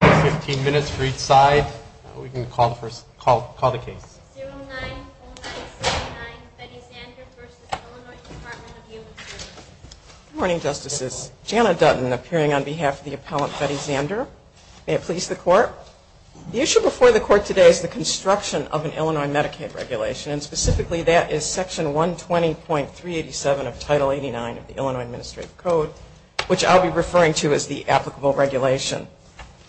Good morning, Justices. Janna Dutton appearing on behalf of the Appellant, Betty Zander. May it please the Court. The issue before the Court today is the construction of an Illinois Medicaid regulation, and specifically that is Section 120.387 of Title 89 of the Illinois Administrative Code, which I'll be referring to as the applicable regulation.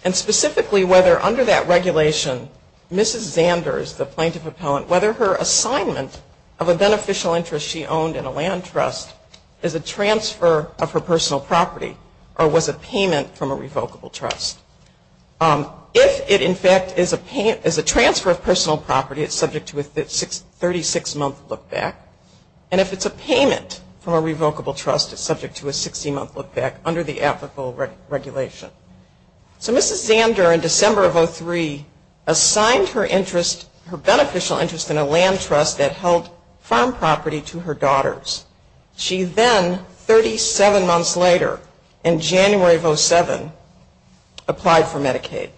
And specifically, whether under that regulation, Mrs. Zander is the Plaintiff Appellant, whether her assignment of a beneficial interest she owned in a land trust is a transfer of her personal property or was a payment from a revocable trust. If it, in fact, is a transfer of personal property, it's subject to a 36-month lookback. And if it's a payment from a revocable trust, it's subject to a 16-month lookback under the applicable regulation. So Mrs. Zander, in December of 2003, assigned her interest, her beneficial interest in a land trust that held farm property to her daughters. She then, 37 months later, in January of 2007, applied for Medicaid.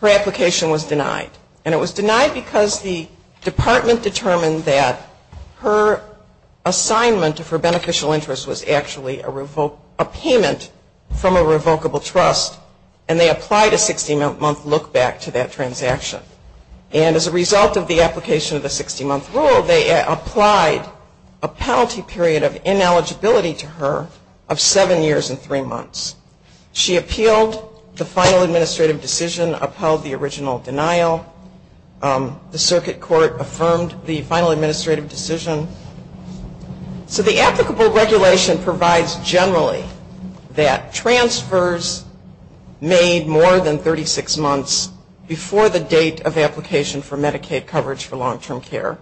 Her application was denied. And it was denied because the Department determined that her assignment of her beneficial interest was actually a payment from a revocable trust. And they applied a 16-month lookback to that transaction. And as a result of the application of the 16-month rule, they applied a penalty period of ineligibility to her of 7 years and 3 months. She appealed the final administrative decision, upheld the original denial. The circuit court affirmed the final administrative decision. So the applicable regulation provides generally that transfers made more than 36 months before the date of application for Medicaid coverage for long-term care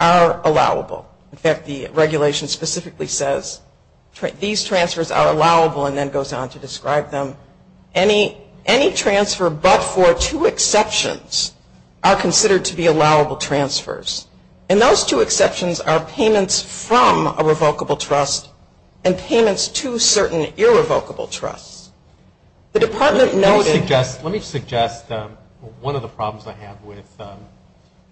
are allowable. In fact, the regulation specifically says these transfers are allowable and then goes on to describe them. Any transfer but for two exceptions are considered to be allowable transfers. And those two exceptions are payments from a revocable trust and payments to certain irrevocable trusts. The Department noted... Let me suggest one of the problems I have with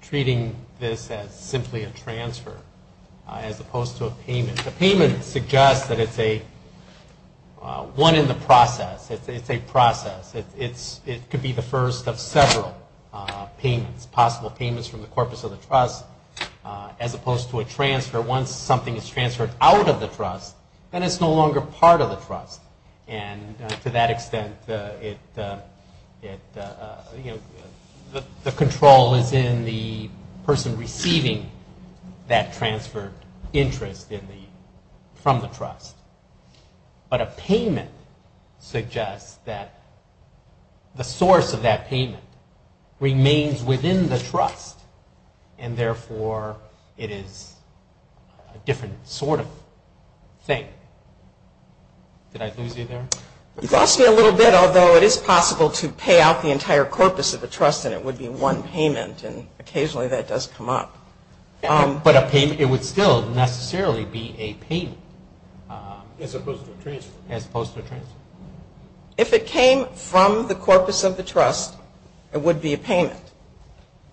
treating this as simply a transfer as opposed to a payment. A payment suggests that it's a one in the process, it's a process. It could be the first of several possible payments from the corpus of the trust as opposed to a transfer. Once something is transferred out of the trust, then it's no longer part of the trust. And to that extent, the control is in the person receiving that transfer interest from the trust. But a payment suggests that the source of that payment remains within the trust, and therefore it is a different sort of thing. Did I lose you there? You lost me a little bit, although it is possible to pay out the entire corpus of the trust and it would be one payment, and occasionally that does come up. But it would still necessarily be a payment as opposed to a transfer. If it came from the corpus of the trust, it would be a payment.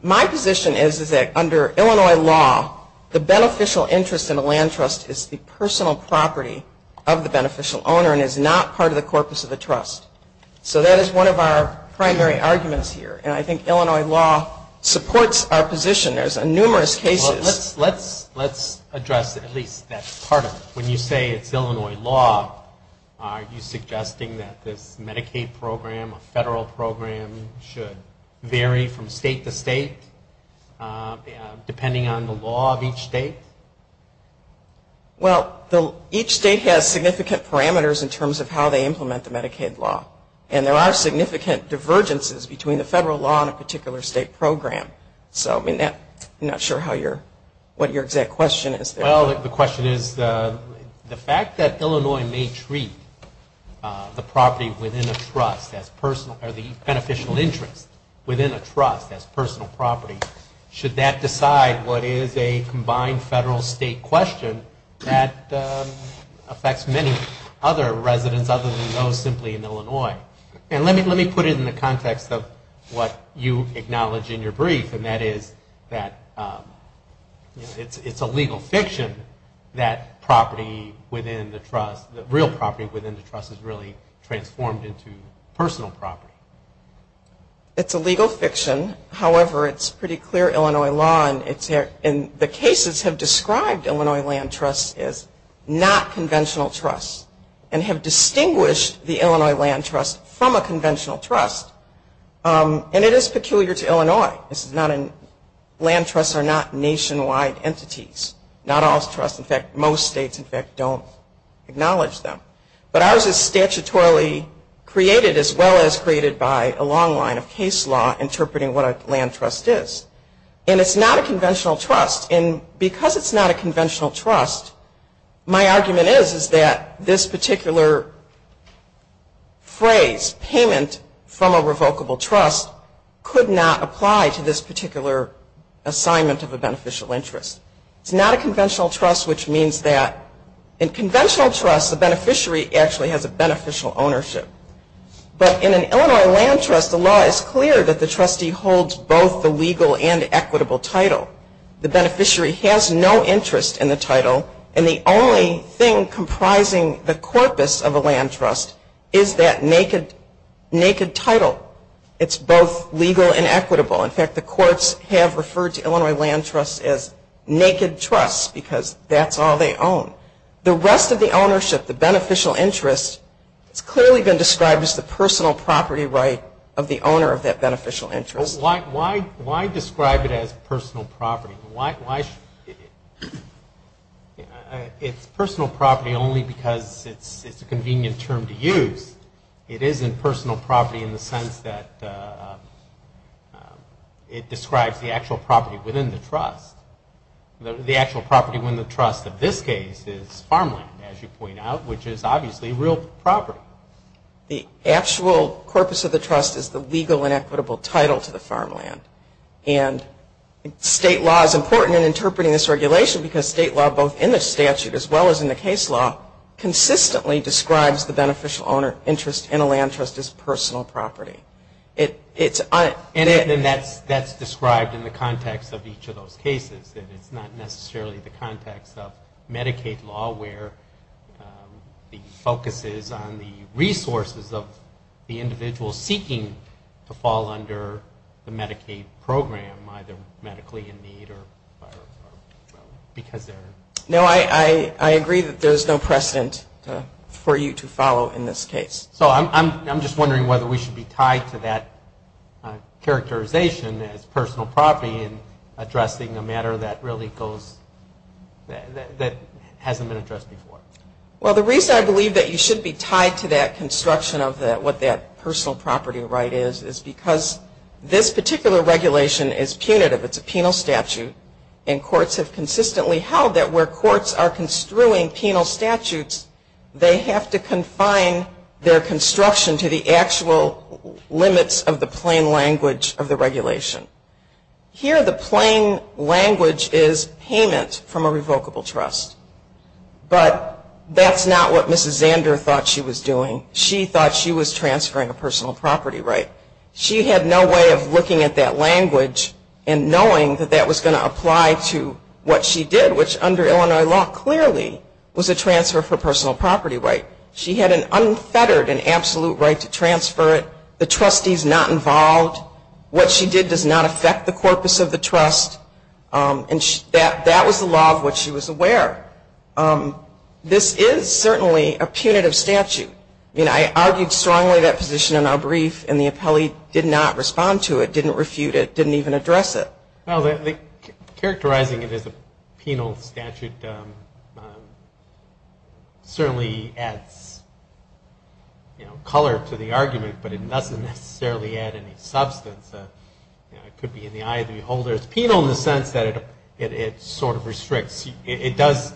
My position is that under Illinois law, the beneficial interest in a land trust is the personal property of the beneficial owner and is not part of the corpus of the trust. So that is one of our primary arguments here, and I think Illinois law supports our position. There's numerous cases. Well, let's address at least that part of it. When you say it's Illinois law, are you suggesting that this Medicaid program, a federal program, should vary from state to state depending on the law of each state? Well, each state has significant parameters in terms of how they implement the Medicaid law. And there are significant divergences between the federal law and a particular state program. So I'm not sure what your exact question is there. Well, the question is the fact that Illinois may treat the property within a trust as personal or the beneficial interest within a trust as personal property, should that decide what is a combined federal-state question that affects many other residents other than those simply in Illinois? And let me put it in the context of what you acknowledge in your brief, and that is that it's a legal fiction that property within the trust, that real property within the trust is really transformed into personal property. It's a legal fiction. However, it's pretty clear Illinois law, and the cases have described Illinois land trusts as not conventional trusts and have distinguished the Illinois land trust from a conventional trust. And it is peculiar to Illinois. Land trusts are not nationwide entities, not all trusts. In fact, most states, in fact, don't acknowledge them. But ours is statutorily created as well as created by a long line of case law interpreting what a land trust is. And it's not a conventional trust. And because it's not a conventional trust, my argument is that this particular phrase, payment from a revocable trust, could not apply to this particular assignment of a beneficial interest. It's not a conventional trust, which means that in conventional trusts, the beneficiary actually has a beneficial ownership. But in an Illinois land trust, the law is clear that the trustee holds both the legal and equitable title. The beneficiary has no interest in the title. And the only thing comprising the corpus of a land trust is that naked title. It's both legal and equitable. In fact, the courts have referred to Illinois land trusts as naked trusts because that's all they own. The rest of the ownership, the beneficial interest, has clearly been described as the personal property right of the owner of that beneficial interest. Why describe it as personal property? It's personal property only because it's a convenient term to use. It isn't personal property in the sense that it describes the actual property within the trust. The actual property within the trust in this case is farmland, as you point out, which is obviously real property. The actual corpus of the trust is the legal and equitable title to the farmland. And state law is important in interpreting this regulation because state law, both in the statute as well as in the case law, consistently describes the beneficial interest in a land trust as personal property. And that's described in the context of each of those cases. It's not necessarily the context of Medicaid law, where the focus is on the resources of the individual seeking to fall under the Medicaid program, either medically in need or because they're in need. No, I agree that there's no precedent for you to follow in this case. So I'm just wondering whether we should be tied to that characterization as personal property in addressing a matter that hasn't been addressed before. Well, the reason I believe that you should be tied to that construction of what that personal property right is, is because this particular regulation is punitive. It's a penal statute. And courts have consistently held that where courts are construing penal statutes, they have to confine their construction to the actual limits of the plain language of the regulation. Here the plain language is payment from a revocable trust. But that's not what Mrs. Zander thought she was doing. She thought she was transferring a personal property right. She had no way of looking at that language and knowing that that was going to apply to what she did, which under Illinois law clearly was a transfer of her personal property right. She had an unfettered and absolute right to transfer it. The trustee's not involved. What she did does not affect the corpus of the trust. And that was the law of what she was aware. This is certainly a punitive statute. I mean, I argued strongly that position in our brief, and the appellee did not respond to it, didn't refute it, didn't even address it. Well, characterizing it as a penal statute certainly adds color to the argument, but it doesn't necessarily add any substance. It could be in the eye of the beholder. It's penal in the sense that it sort of restricts. It does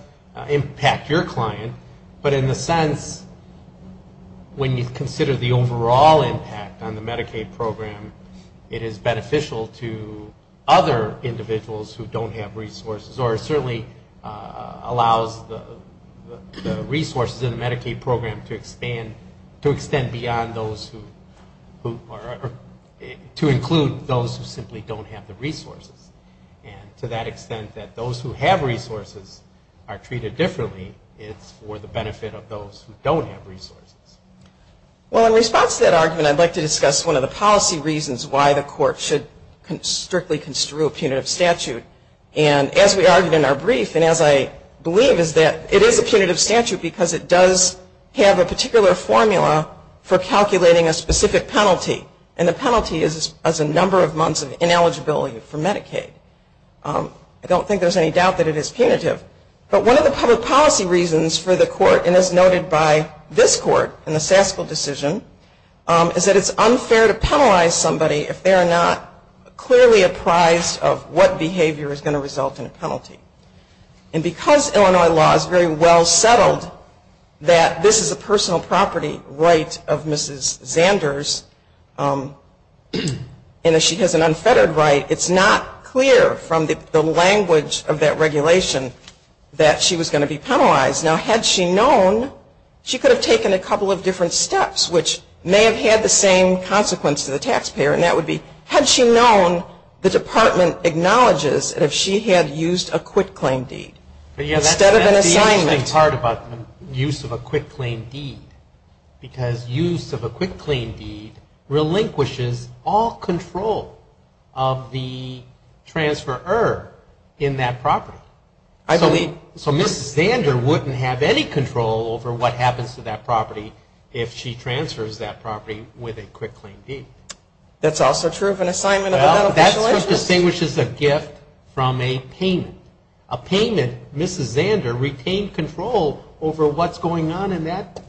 impact your client, but in the sense when you consider the overall impact on the Medicaid program, it is beneficial to other individuals who don't have resources, or it certainly allows the resources in the Medicaid program to expand, to extend beyond those who are, to include those who simply don't have the resources. And to that extent that those who have resources are treated differently, it's for the benefit of those who don't have resources. Well, in response to that argument, I'd like to discuss one of the policy reasons why the court should strictly construe a punitive statute. And as we argued in our brief, and as I believe, is that it is a punitive statute because it does have a particular formula for calculating a specific penalty, and the penalty is a number of months of ineligibility for Medicaid. I don't think there's any doubt that it is punitive. But one of the public policy reasons for the court, and as noted by this court in the Saskel decision, is that it's unfair to penalize somebody if they are not clearly apprised of what behavior is going to result in a penalty. And because Illinois law is very well settled that this is a personal property right of Mrs. Zanders, and she has an unfettered right, it's not clear from the language of that regulation that she was going to be penalized. Now, had she known, she could have taken a couple of different steps, which may have had the same consequence to the taxpayer, and that would be, had she known the department acknowledges that if she had used a quitclaim deed instead of an assignment. That's the interesting part about the use of a quitclaim deed, because use of a quitclaim deed relinquishes all control of the transferor in that property. So Mrs. Zander wouldn't have any control over what happens to that property if she transfers that property with a quitclaim deed. That's also true of an assignment of an unofficial interest. Well, that's what distinguishes a gift from a payment. A payment, Mrs. Zander retained control over what's going on in that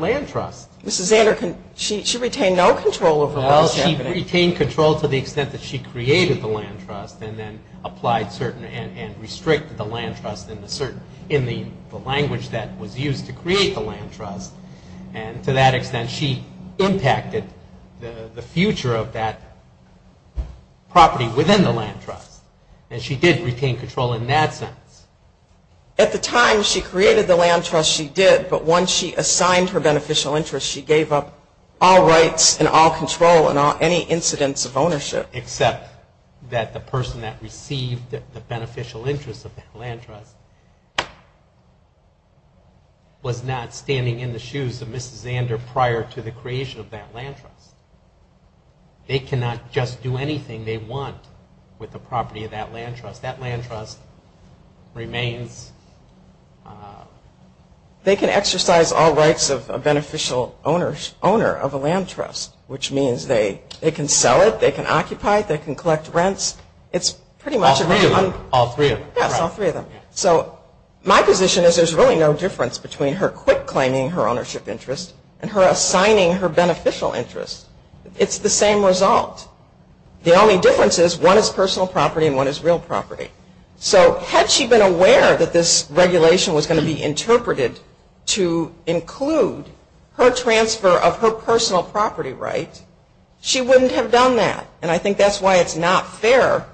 land trust. Mrs. Zander, she retained no control over what was happening. Well, she retained control to the extent that she created the land trust and then applied certain and restricted the land trust in the language that was used to create the land trust. And to that extent, she impacted the future of that property within the land trust. And she did retain control in that sense. At the time she created the land trust, she did. But once she assigned her beneficial interest, she gave up all rights and all control and any incidence of ownership. Except that the person that received the beneficial interest of that land trust was not standing in the shoes of Mrs. Zander prior to the creation of that land trust. They cannot just do anything they want with the property of that land trust. That land trust remains... They can exercise all rights of a beneficial owner of a land trust, which means they can sell it, they can occupy it, they can collect rents. It's pretty much... All three of them. Yes, all three of them. So my position is there's really no difference between her quitclaiming her ownership interest and her assigning her beneficial interest. It's the same result. The only difference is one is personal property and one is real property. So had she been aware that this regulation was going to be interpreted to include her transfer of her personal property rights, she wouldn't have done that. And I think that's why it's not fair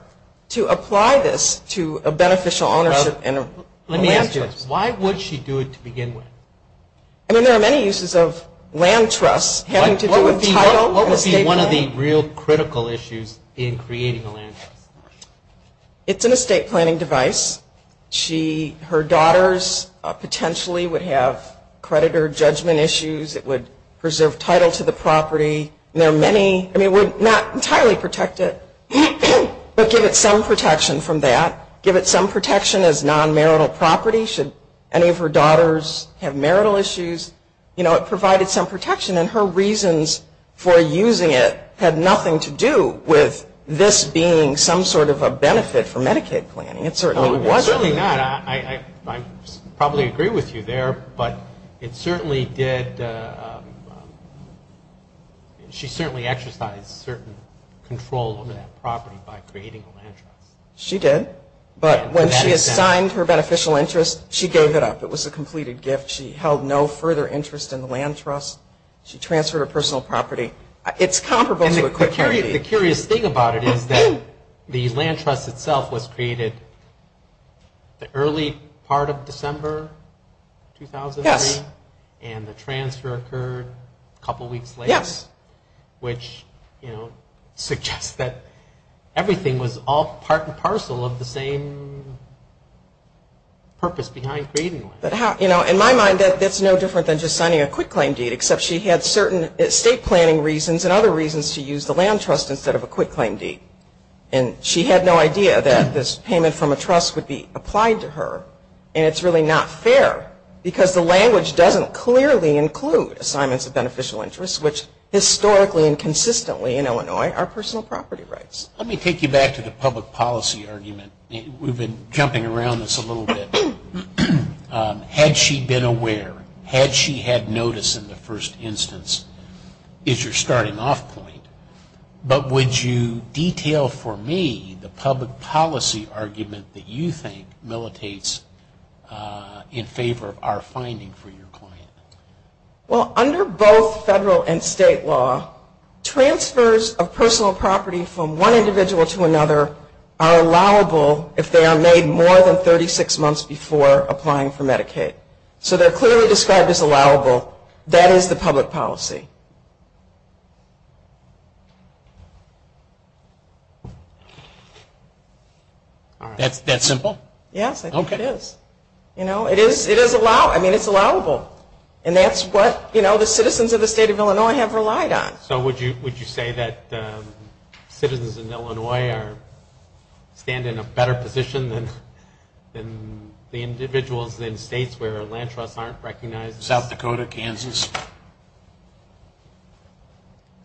to apply this to a beneficial ownership land trust. Let me ask you this. Why would she do it to begin with? I mean, there are many uses of land trusts having to do with title. What would be one of the real critical issues in creating a land trust? It's an estate planning device. Her daughters potentially would have creditor judgment issues. It would preserve title to the property. There are many... I mean, we're not entirely protected, but give it some protection from that. Give it some protection as non-marital property. Should any of her daughters have marital issues? You know, it provided some protection, and her reasons for using it had nothing to do with this being some sort of a benefit for Medicaid planning. It certainly wasn't. It's certainly not. I probably agree with you there, but it certainly did... She certainly exercised certain control over that property by creating a land trust. She did. But when she assigned her beneficial interest, she gave it up. It was a completed gift. She held no further interest in the land trust. She transferred her personal property. It's comparable to a quick guarantee. The curious thing about it is that the land trust itself was created the early part of December 2003, and the transfer occurred a couple weeks later, which suggests that everything was all part and parcel of the same purpose behind creating one. In my mind, that's no different than just signing a quick claim deed, except she had certain estate planning reasons and other reasons to use the land trust instead of a quick claim deed. And she had no idea that this payment from a trust would be applied to her, and it's really not fair because the language doesn't clearly include assignments which historically and consistently in Illinois are personal property rights. Let me take you back to the public policy argument. We've been jumping around this a little bit. Had she been aware, had she had notice in the first instance, is your starting off point. But would you detail for me the public policy argument that you think militates in favor of our finding for your client? Well, under both federal and state law, transfers of personal property from one individual to another are allowable if they are made more than 36 months before applying for Medicaid. So they're clearly described as allowable. That is the public policy. That's simple? Yes, I think it is. It is allowable. And that's what the citizens of the state of Illinois have relied on. So would you say that citizens in Illinois stand in a better position than the individuals in states where land trusts aren't recognized? South Dakota, Kansas?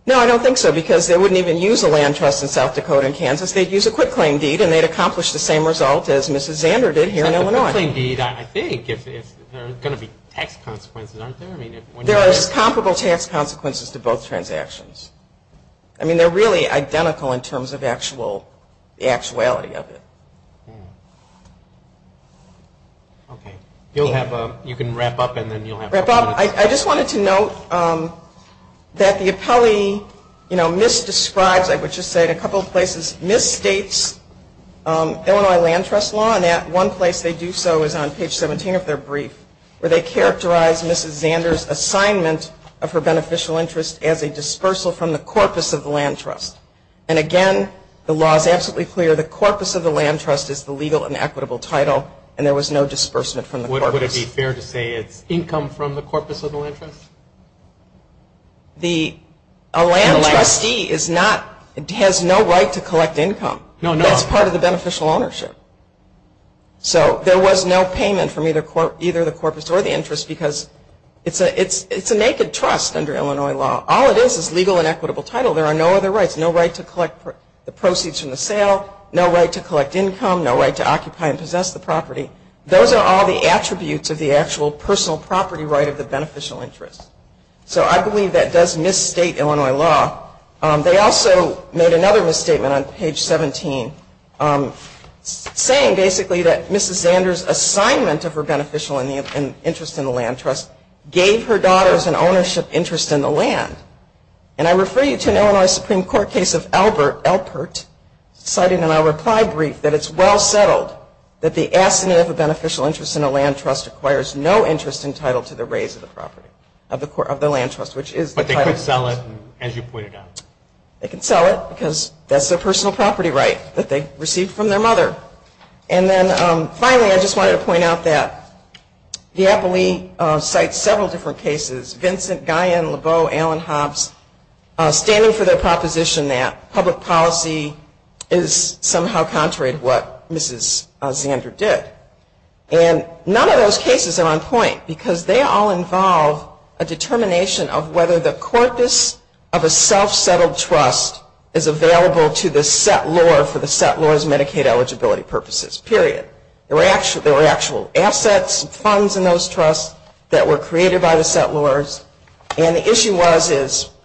No, I don't think so because they wouldn't even use a land trust in South Dakota and Kansas. Because they'd use a quick claim deed and they'd accomplish the same result as Mrs. Zander did here in Illinois. I think there are going to be tax consequences, aren't there? There are comparable tax consequences to both transactions. I mean, they're really identical in terms of the actuality of it. You can wrap up and then you'll have a couple of minutes. I just wanted to note that the appellee misdescribes, I would just say in a couple of places, misstates Illinois land trust law. And at one place they do so is on page 17 of their brief, where they characterize Mrs. Zander's assignment of her beneficial interest as a dispersal from the corpus of the land trust. And again, the law is absolutely clear. The corpus of the land trust is the legal and equitable title, and there was no disbursement from the corpus. Would it be fair to say it's income from the corpus of the land trust? A land trustee has no right to collect income. That's part of the beneficial ownership. So there was no payment from either the corpus or the interest because it's a naked trust under Illinois law. All it is is legal and equitable title. There are no other rights, no right to collect the proceeds from the sale, no right to collect income, no right to occupy and possess the property. Those are all the attributes of the actual personal property right of the beneficial interest. So I believe that does misstate Illinois law. They also made another misstatement on page 17, saying basically that Mrs. Zander's assignment of her beneficial interest in the land trust gave her daughters an ownership interest in the land. And I refer you to an Illinois Supreme Court case of Elpert, citing in our reply brief that it's well settled that the assignment of a beneficial interest in a land trust requires no interest entitled to the raise of the property, of the land trust, which is the title. But they could sell it, as you pointed out. They can sell it because that's their personal property right that they received from their mother. And then finally, I just wanted to point out that the APALEE cites several different cases, Vincent, Guyen, Lebeau, Allen, Hobbs, standing for their proposition that public policy is somehow contrary to what Mrs. Zander did. And none of those cases are on point because they all involve a determination of whether the corpus of a self-settled trust is available to the settlor for the settlor's Medicaid eligibility purposes, period. There were actual assets and funds in those trusts that were created by the settlors. And the issue was,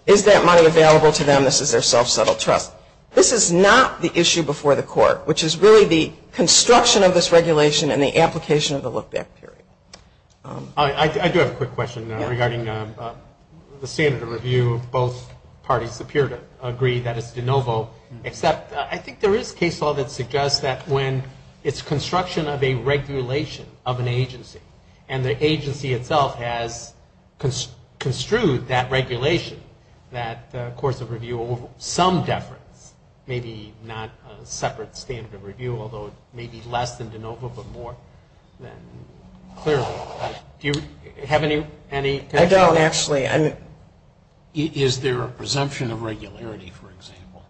is that money available to them? This is their self-settled trust. This is not the issue before the court, which is really the construction of this regulation and the application of the look-back period. I do have a quick question regarding the standard of review. Both parties appear to agree that it's de novo, except I think there is case law that suggests that when it's construction of a regulation of an agency, and the agency itself has construed that regulation, that the course of review over some deference may be not a separate standard of review, although it may be less than de novo but more than clearly. Do you have any connection? Is there a presumption of regularity, for example,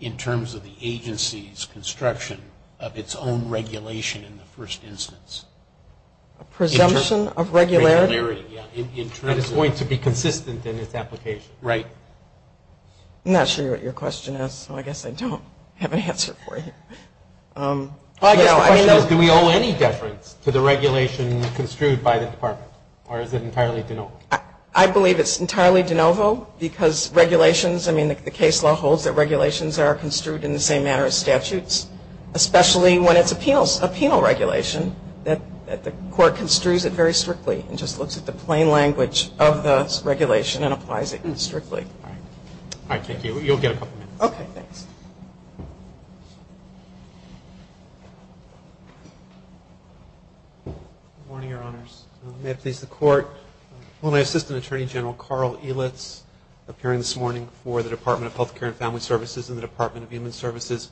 in terms of the agency's construction of its own regulation in the first instance? A presumption of regularity? It's going to be consistent in its application, right? I'm not sure what your question is, so I guess I don't have an answer for you. My question is, do we owe any deference to the regulation construed by the department, or is it entirely de novo? I believe it's entirely de novo because regulations, I mean, the case law holds that regulations are construed in the same manner as statutes, especially when it's a penal regulation that the court construes it very strictly and just looks at the plain language of the regulation and applies it strictly. All right, thank you. You'll get a couple minutes. Good morning, Your Honors. May it please the Court. Well, my assistant attorney general, Carl Elitz, appearing this morning for the Department of Health Care and Family Services and the Department of Human Services.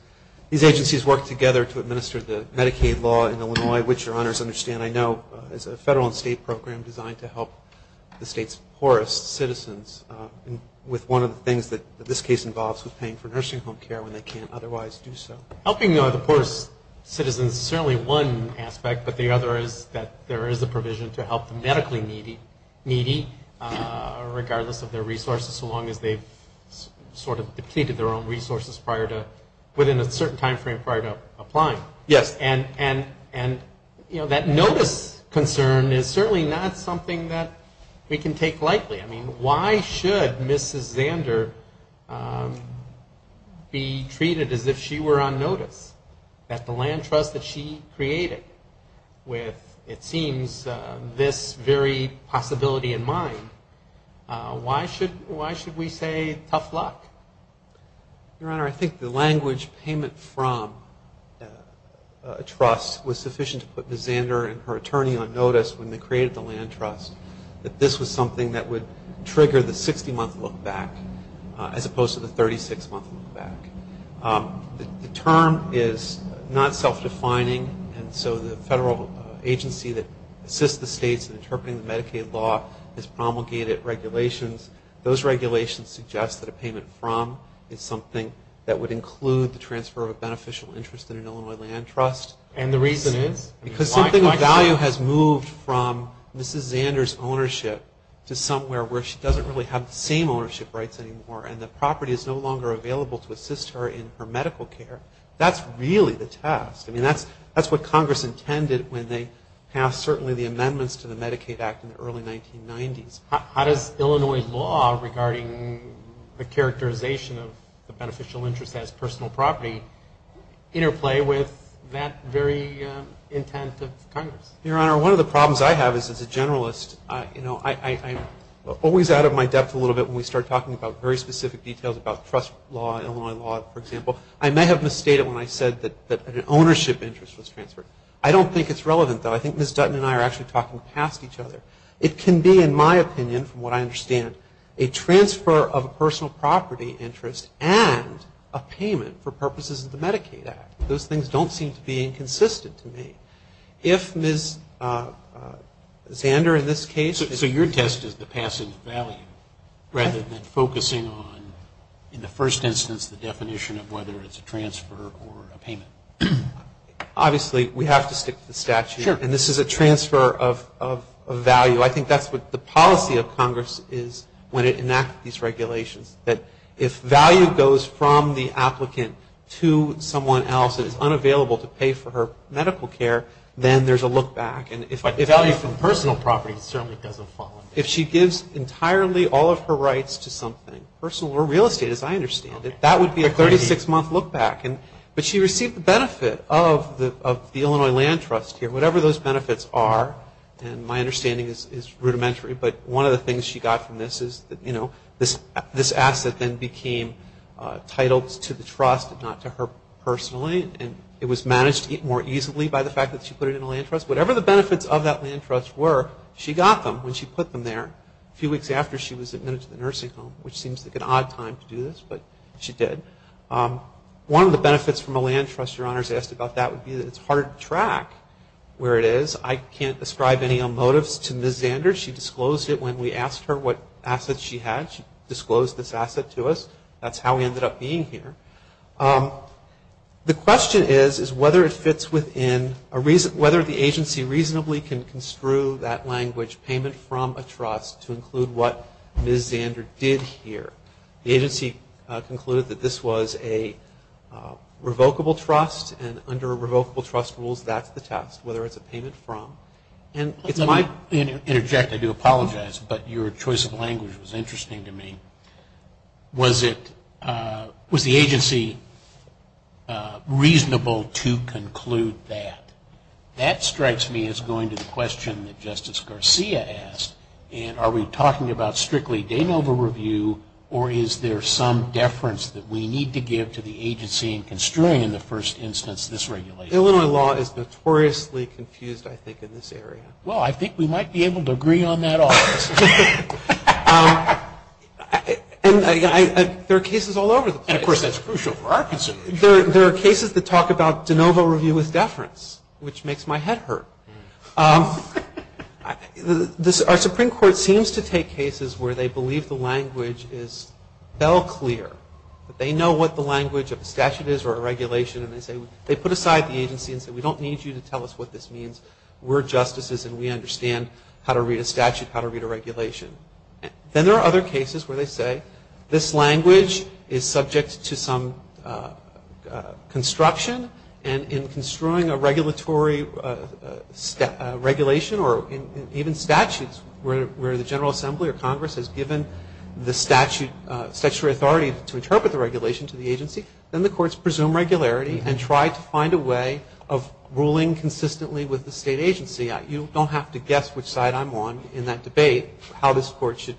These agencies work together to administer the Medicaid law in Illinois, which Your Honors understand I know is a federal and state program designed to help the state's poorest citizens with one of the things that this case involves with paying for nursing home care when they can't otherwise do so. Helping the poorest citizens is certainly one aspect, but the other is that there is a provision to help the medically needy, regardless of their resources, so long as they've sort of depleted their own resources within a certain time frame prior to applying. And that notice concern is certainly not something that we can take lightly. I mean, why should Mrs. Zander be treated as if she were on notice, that the land trust that she created with, it seems, this very possibility in mind, why should we say tough luck? Your Honor, I think the language payment from a trust was sufficient to put Mrs. Zander and her attorney on notice when they created the land trust, that this was something that would trigger the 60-month look back, as opposed to the 36-month look back. The term is not self-defining, and so the federal agency that assists the states in interpreting the Medicaid law has promulgated regulations. Those regulations suggest that a payment from is something that would include the transfer of a beneficial interest in an Illinois land trust. And the reason is? Because something of value has moved from Mrs. Zander's ownership to somewhere where she doesn't really have the same ownership rights anymore, and the property is no longer available to assist her in her medical care. That's really the task. I mean, that's what Congress intended when they passed certainly the amendments to the Medicaid Act in the early 1990s. How does Illinois law regarding the characterization of the beneficial interest as personal property interplay with that very intent of Congress? Your Honor, one of the problems I have is as a generalist, you know, I'm always out of my depth a little bit when we start talking about very specific details about trust law, Illinois law, for example. I may have misstated when I said that an ownership interest was transferred. I don't think it's relevant, though. I think Ms. Dutton and I are actually talking past each other. It can be, in my opinion, from what I understand, a transfer of a personal property interest and a payment for purposes of the Medicaid Act. Those things don't seem to be inconsistent to me. If Ms. Zander, in this case ---- So your test is the passing of value rather than focusing on, in the first instance, the definition of whether it's a transfer or a payment. Obviously, we have to stick to the statute. Sure. And this is a transfer of value. I think that's what the policy of Congress is when it enacts these regulations, that if value goes from the applicant to someone else that is unavailable to pay for her medical care, then there's a look back. But the value from personal property certainly doesn't fall. If she gives entirely all of her rights to something, personal or real estate, as I understand it, that would be a 36-month look back. But she received the benefit of the Illinois Land Trust here. Whatever those benefits are, and my understanding is rudimentary, but one of the things she got from this is that this asset then became titled to the trust and not to her personally. And it was managed more easily by the fact that she put it in a land trust. Whatever the benefits of that land trust were, she got them when she put them there, a few weeks after she was admitted to the nursing home, which seems like an odd time to do this, but she did. One of the benefits from a land trust, Your Honors, asked about that would be that it's hard to track where it is. I can't ascribe any motives to Ms. Zander. She disclosed it when we asked her what assets she had. She disclosed this asset to us. That's how we ended up being here. The question is, is whether it fits within a reason, whether the agency reasonably can construe that language, payment from a trust, to include what Ms. Zander did here. The agency concluded that this was a revocable trust, and under revocable trust rules, that's the test, whether it's a payment from. Let me interject. I do apologize, but your choice of language was interesting to me. Was the agency reasonable to conclude that? That strikes me as going to the question that Justice Garcia asked, and are we talking about strictly de novo review, or is there some deference that we need to give to the agency in construing in the first instance this regulation? Illinois law is notoriously confused, I think, in this area. Well, I think we might be able to agree on that also. There are cases all over the place. Of course, that's crucial for our consideration. There are cases that talk about de novo review with deference, which makes my head hurt. Our Supreme Court seems to take cases where they believe the language is bell clear. They know what the language of a statute is or a regulation, and they put aside the agency and say, we don't need you to tell us what this means. We're justices, and we understand how to read a statute, how to read a regulation. Then there are other cases where they say, this language is subject to some construction, and in construing a regulatory regulation or even statutes where the General Assembly or Congress has given the statutory authority to interpret the regulation to the agency, then the courts presume regularity and try to find a way of ruling consistently with the state agency. You don't have to guess which side I'm on in that debate how this court should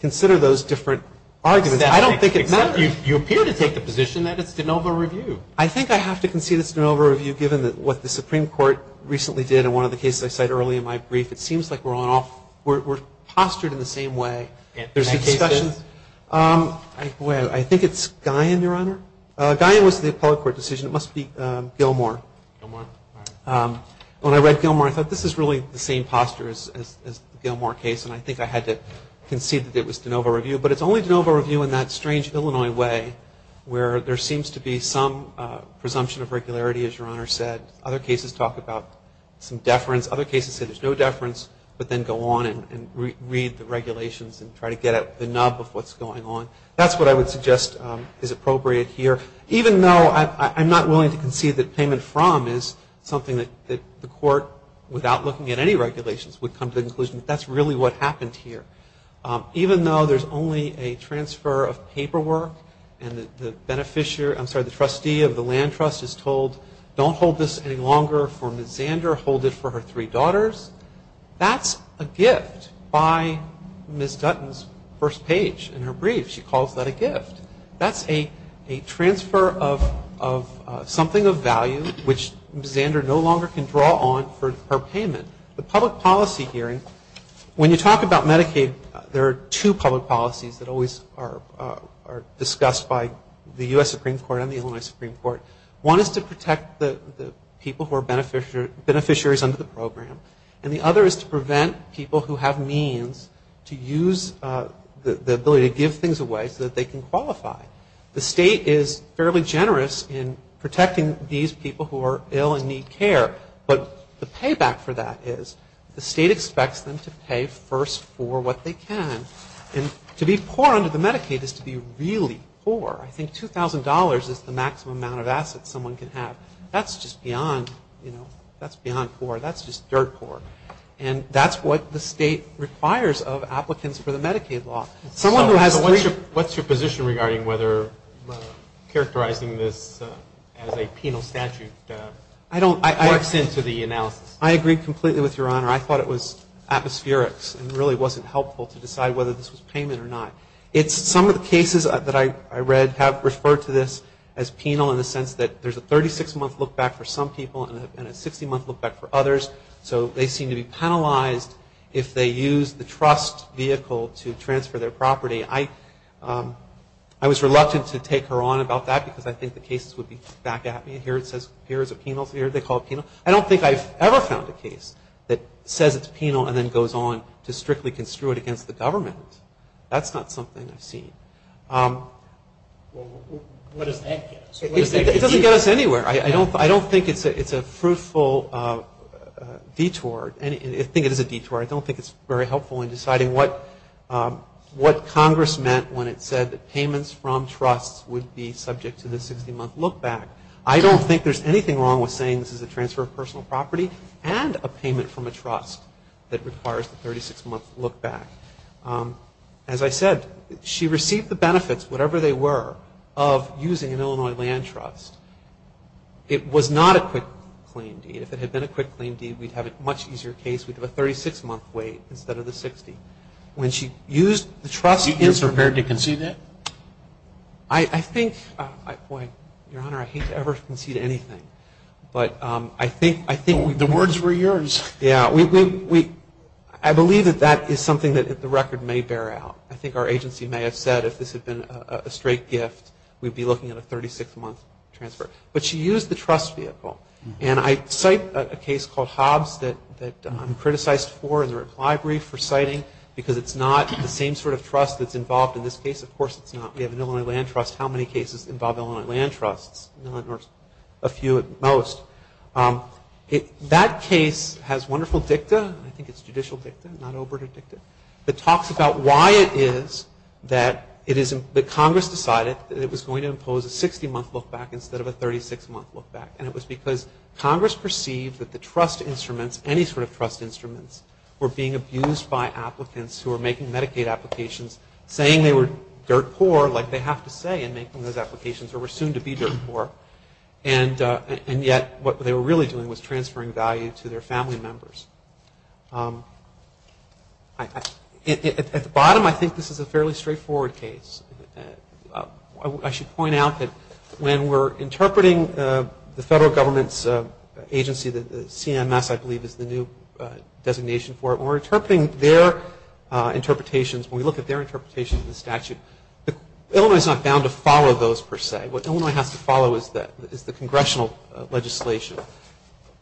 consider those different arguments. I don't think it matters. You appear to take the position that it's de novo review. I think I have to concede it's de novo review given what the Supreme Court recently did in one of the cases I cited earlier in my brief. It seems like we're postured in the same way. I think it's Guyon, Your Honor. Guyon was the appellate court decision. It must be Gilmore. When I read Gilmore, I thought, this is really the same posture as the Gilmore case, and I think I had to concede that it was de novo review. But it's only de novo review in that strange Illinois way where there seems to be some presumption of regularity, as Your Honor said. Other cases talk about some deference. Other cases say there's no deference, but then go on and read the regulations and try to get at the nub of what's going on. That's what I would suggest is appropriate here, even though I'm not willing to concede that payment from is something that the court, without looking at any regulations, would come to the conclusion that that's really what happened here. Even though there's only a transfer of paperwork and the trustee of the land trust is told, don't hold this any longer for Ms. Zander, hold it for her three daughters, that's a gift by Ms. Dutton's first page in her brief. She calls that a gift. That's a transfer of something of value, which Ms. Zander no longer can draw on for her payment. The public policy hearing, when you talk about Medicaid, there are two public policies that always are discussed by the U.S. Supreme Court and the Illinois Supreme Court. One is to protect the people who are beneficiaries under the program, and the other is to prevent people who have means to use the ability to give things away so that they can qualify. The state is fairly generous in protecting these people who are ill and need care, but the payback for that is the state expects them to pay first for what they can. And to be poor under the Medicaid is to be really poor. I think $2,000 is the maximum amount of assets someone can have. That's just beyond poor. That's just dirt poor. And that's what the state requires of applicants for the Medicaid law. So what's your position regarding whether characterizing this as a penal statute works into the analysis? I agree completely with Your Honor. I thought it was atmospherics and really wasn't helpful to decide whether this was payment or not. Some of the cases that I read have referred to this as penal in the sense that there's a 36-month look-back for some people and a 60-month look-back for others, so they seem to be penalized if they use the trust vehicle to transfer their property. I was reluctant to take her on about that because I think the cases would be back at me. Here it says here is a penal statute. Here they call it penal. I don't think I've ever found a case that says it's penal and then goes on to strictly construe it against the government. That's not something I've seen. What does that get us? It doesn't get us anywhere. I don't think it's a fruitful detour. I think it is a detour. I don't think it's very helpful in deciding what Congress meant when it said that payments from trusts would be subject to the 60-month look-back. I don't think there's anything wrong with saying this is a transfer of personal property and a payment from a trust that requires the 36-month look-back. As I said, she received the benefits, whatever they were, of using an Illinois land trust. It was not a quick claim deed. If it had been a quick claim deed, we'd have a much easier case. We'd have a 36-month wait instead of the 60. When she used the trust in Illinois. Is she prepared to concede that? I think – boy, Your Honor, I hate to ever concede anything. But I think – The words were yours. Yeah. I believe that that is something that the record may bear out. I think our agency may have said if this had been a straight gift, we'd be looking at a 36-month transfer. But she used the trust vehicle. And I cite a case called Hobbs that I'm criticized for in the reply brief for citing because it's not the same sort of trust that's involved in this case. Of course it's not. We have an Illinois land trust. How many cases involve Illinois land trusts? A few at most. That case has wonderful dicta. I think it's judicial dicta, not oberta dicta. It talks about why it is that Congress decided that it was going to impose a 60-month look-back instead of a 36-month look-back. And it was because Congress perceived that the trust instruments, any sort of trust instruments, were being abused by applicants who were making Medicaid applications, saying they were dirt poor, like they have to say in making those applications, or were soon to be dirt poor. And yet what they were really doing was transferring value to their family members. At the bottom, I think this is a fairly straightforward case. I should point out that when we're interpreting the federal government's agency, the CMS I believe is the new designation for it, when we're interpreting their interpretations, when we look at their interpretations of the statute, Illinois is not bound to follow those per se. What Illinois has to follow is the congressional legislation.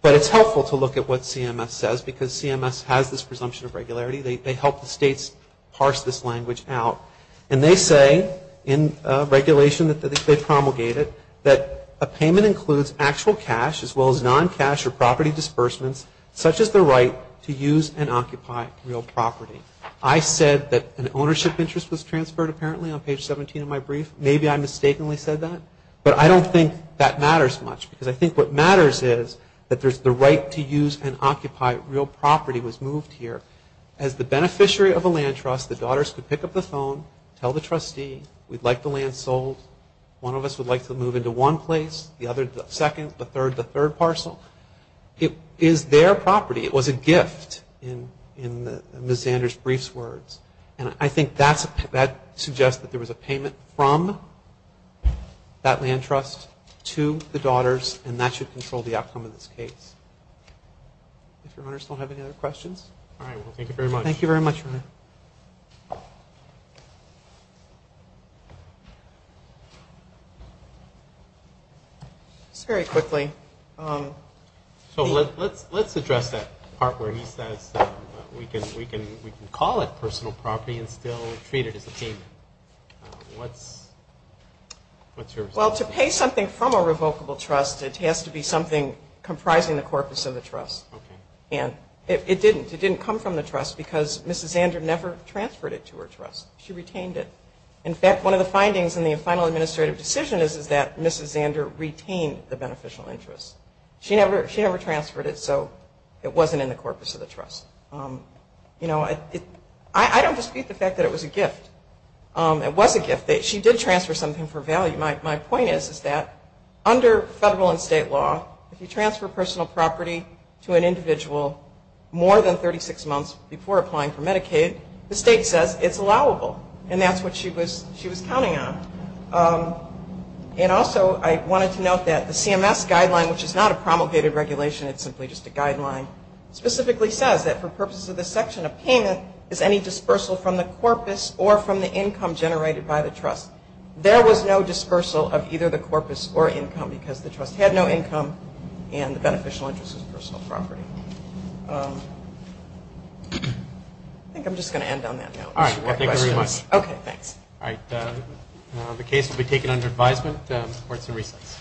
But it's helpful to look at what CMS says because CMS has this presumption of regularity. They help the states parse this language out. And they say in regulation that they promulgated that a payment includes actual cash as well as non-cash or property disbursements such as the right to use and occupy real property. I said that an ownership interest was transferred apparently on page 17 of my brief. Maybe I mistakenly said that. But I don't think that matters much because I think what matters is that there's the right to use and occupy real property was moved here. As the beneficiary of a land trust, the daughters could pick up the phone, tell the trustee, we'd like the land sold. One of us would like to move into one place, the other the second, the third the third parcel. It is their property. It was a gift in Ms. Zander's brief's words. And I think that suggests that there was a payment from that land trust to the daughters and that should control the outcome of this case. If your owners don't have any other questions. All right. Well, thank you very much. Thank you very much, Ryan. Just very quickly. So let's address that part where he says that we can call it personal property and still treat it as a payment. What's your response? Well, to pay something from a revocable trust, it has to be something comprising the corpus of the trust. Okay. And it didn't. It didn't come from the trust because Ms. Zander never transferred it to her trust. She retained it. In fact, one of the findings in the final administrative decision is that Ms. Zander retained the beneficial interest. She never transferred it, so it wasn't in the corpus of the trust. You know, I don't dispute the fact that it was a gift. It was a gift. She did transfer something for value. My point is that under federal and state law, if you transfer personal property to an individual more than 36 months before applying for Medicaid, the state says it's allowable, and that's what she was counting on. And also I wanted to note that the CMS guideline, which is not a promulgated regulation, it's simply just a guideline, specifically says that for purposes of this section of payment is any dispersal from the corpus or from the income generated by the trust. There was no dispersal of either the corpus or income because the trust had no income and the beneficial interest was personal property. I think I'm just going to end on that note. All right. Thank you very much. Okay. Thanks. All right. The case will be taken under advisement. The court is in recess.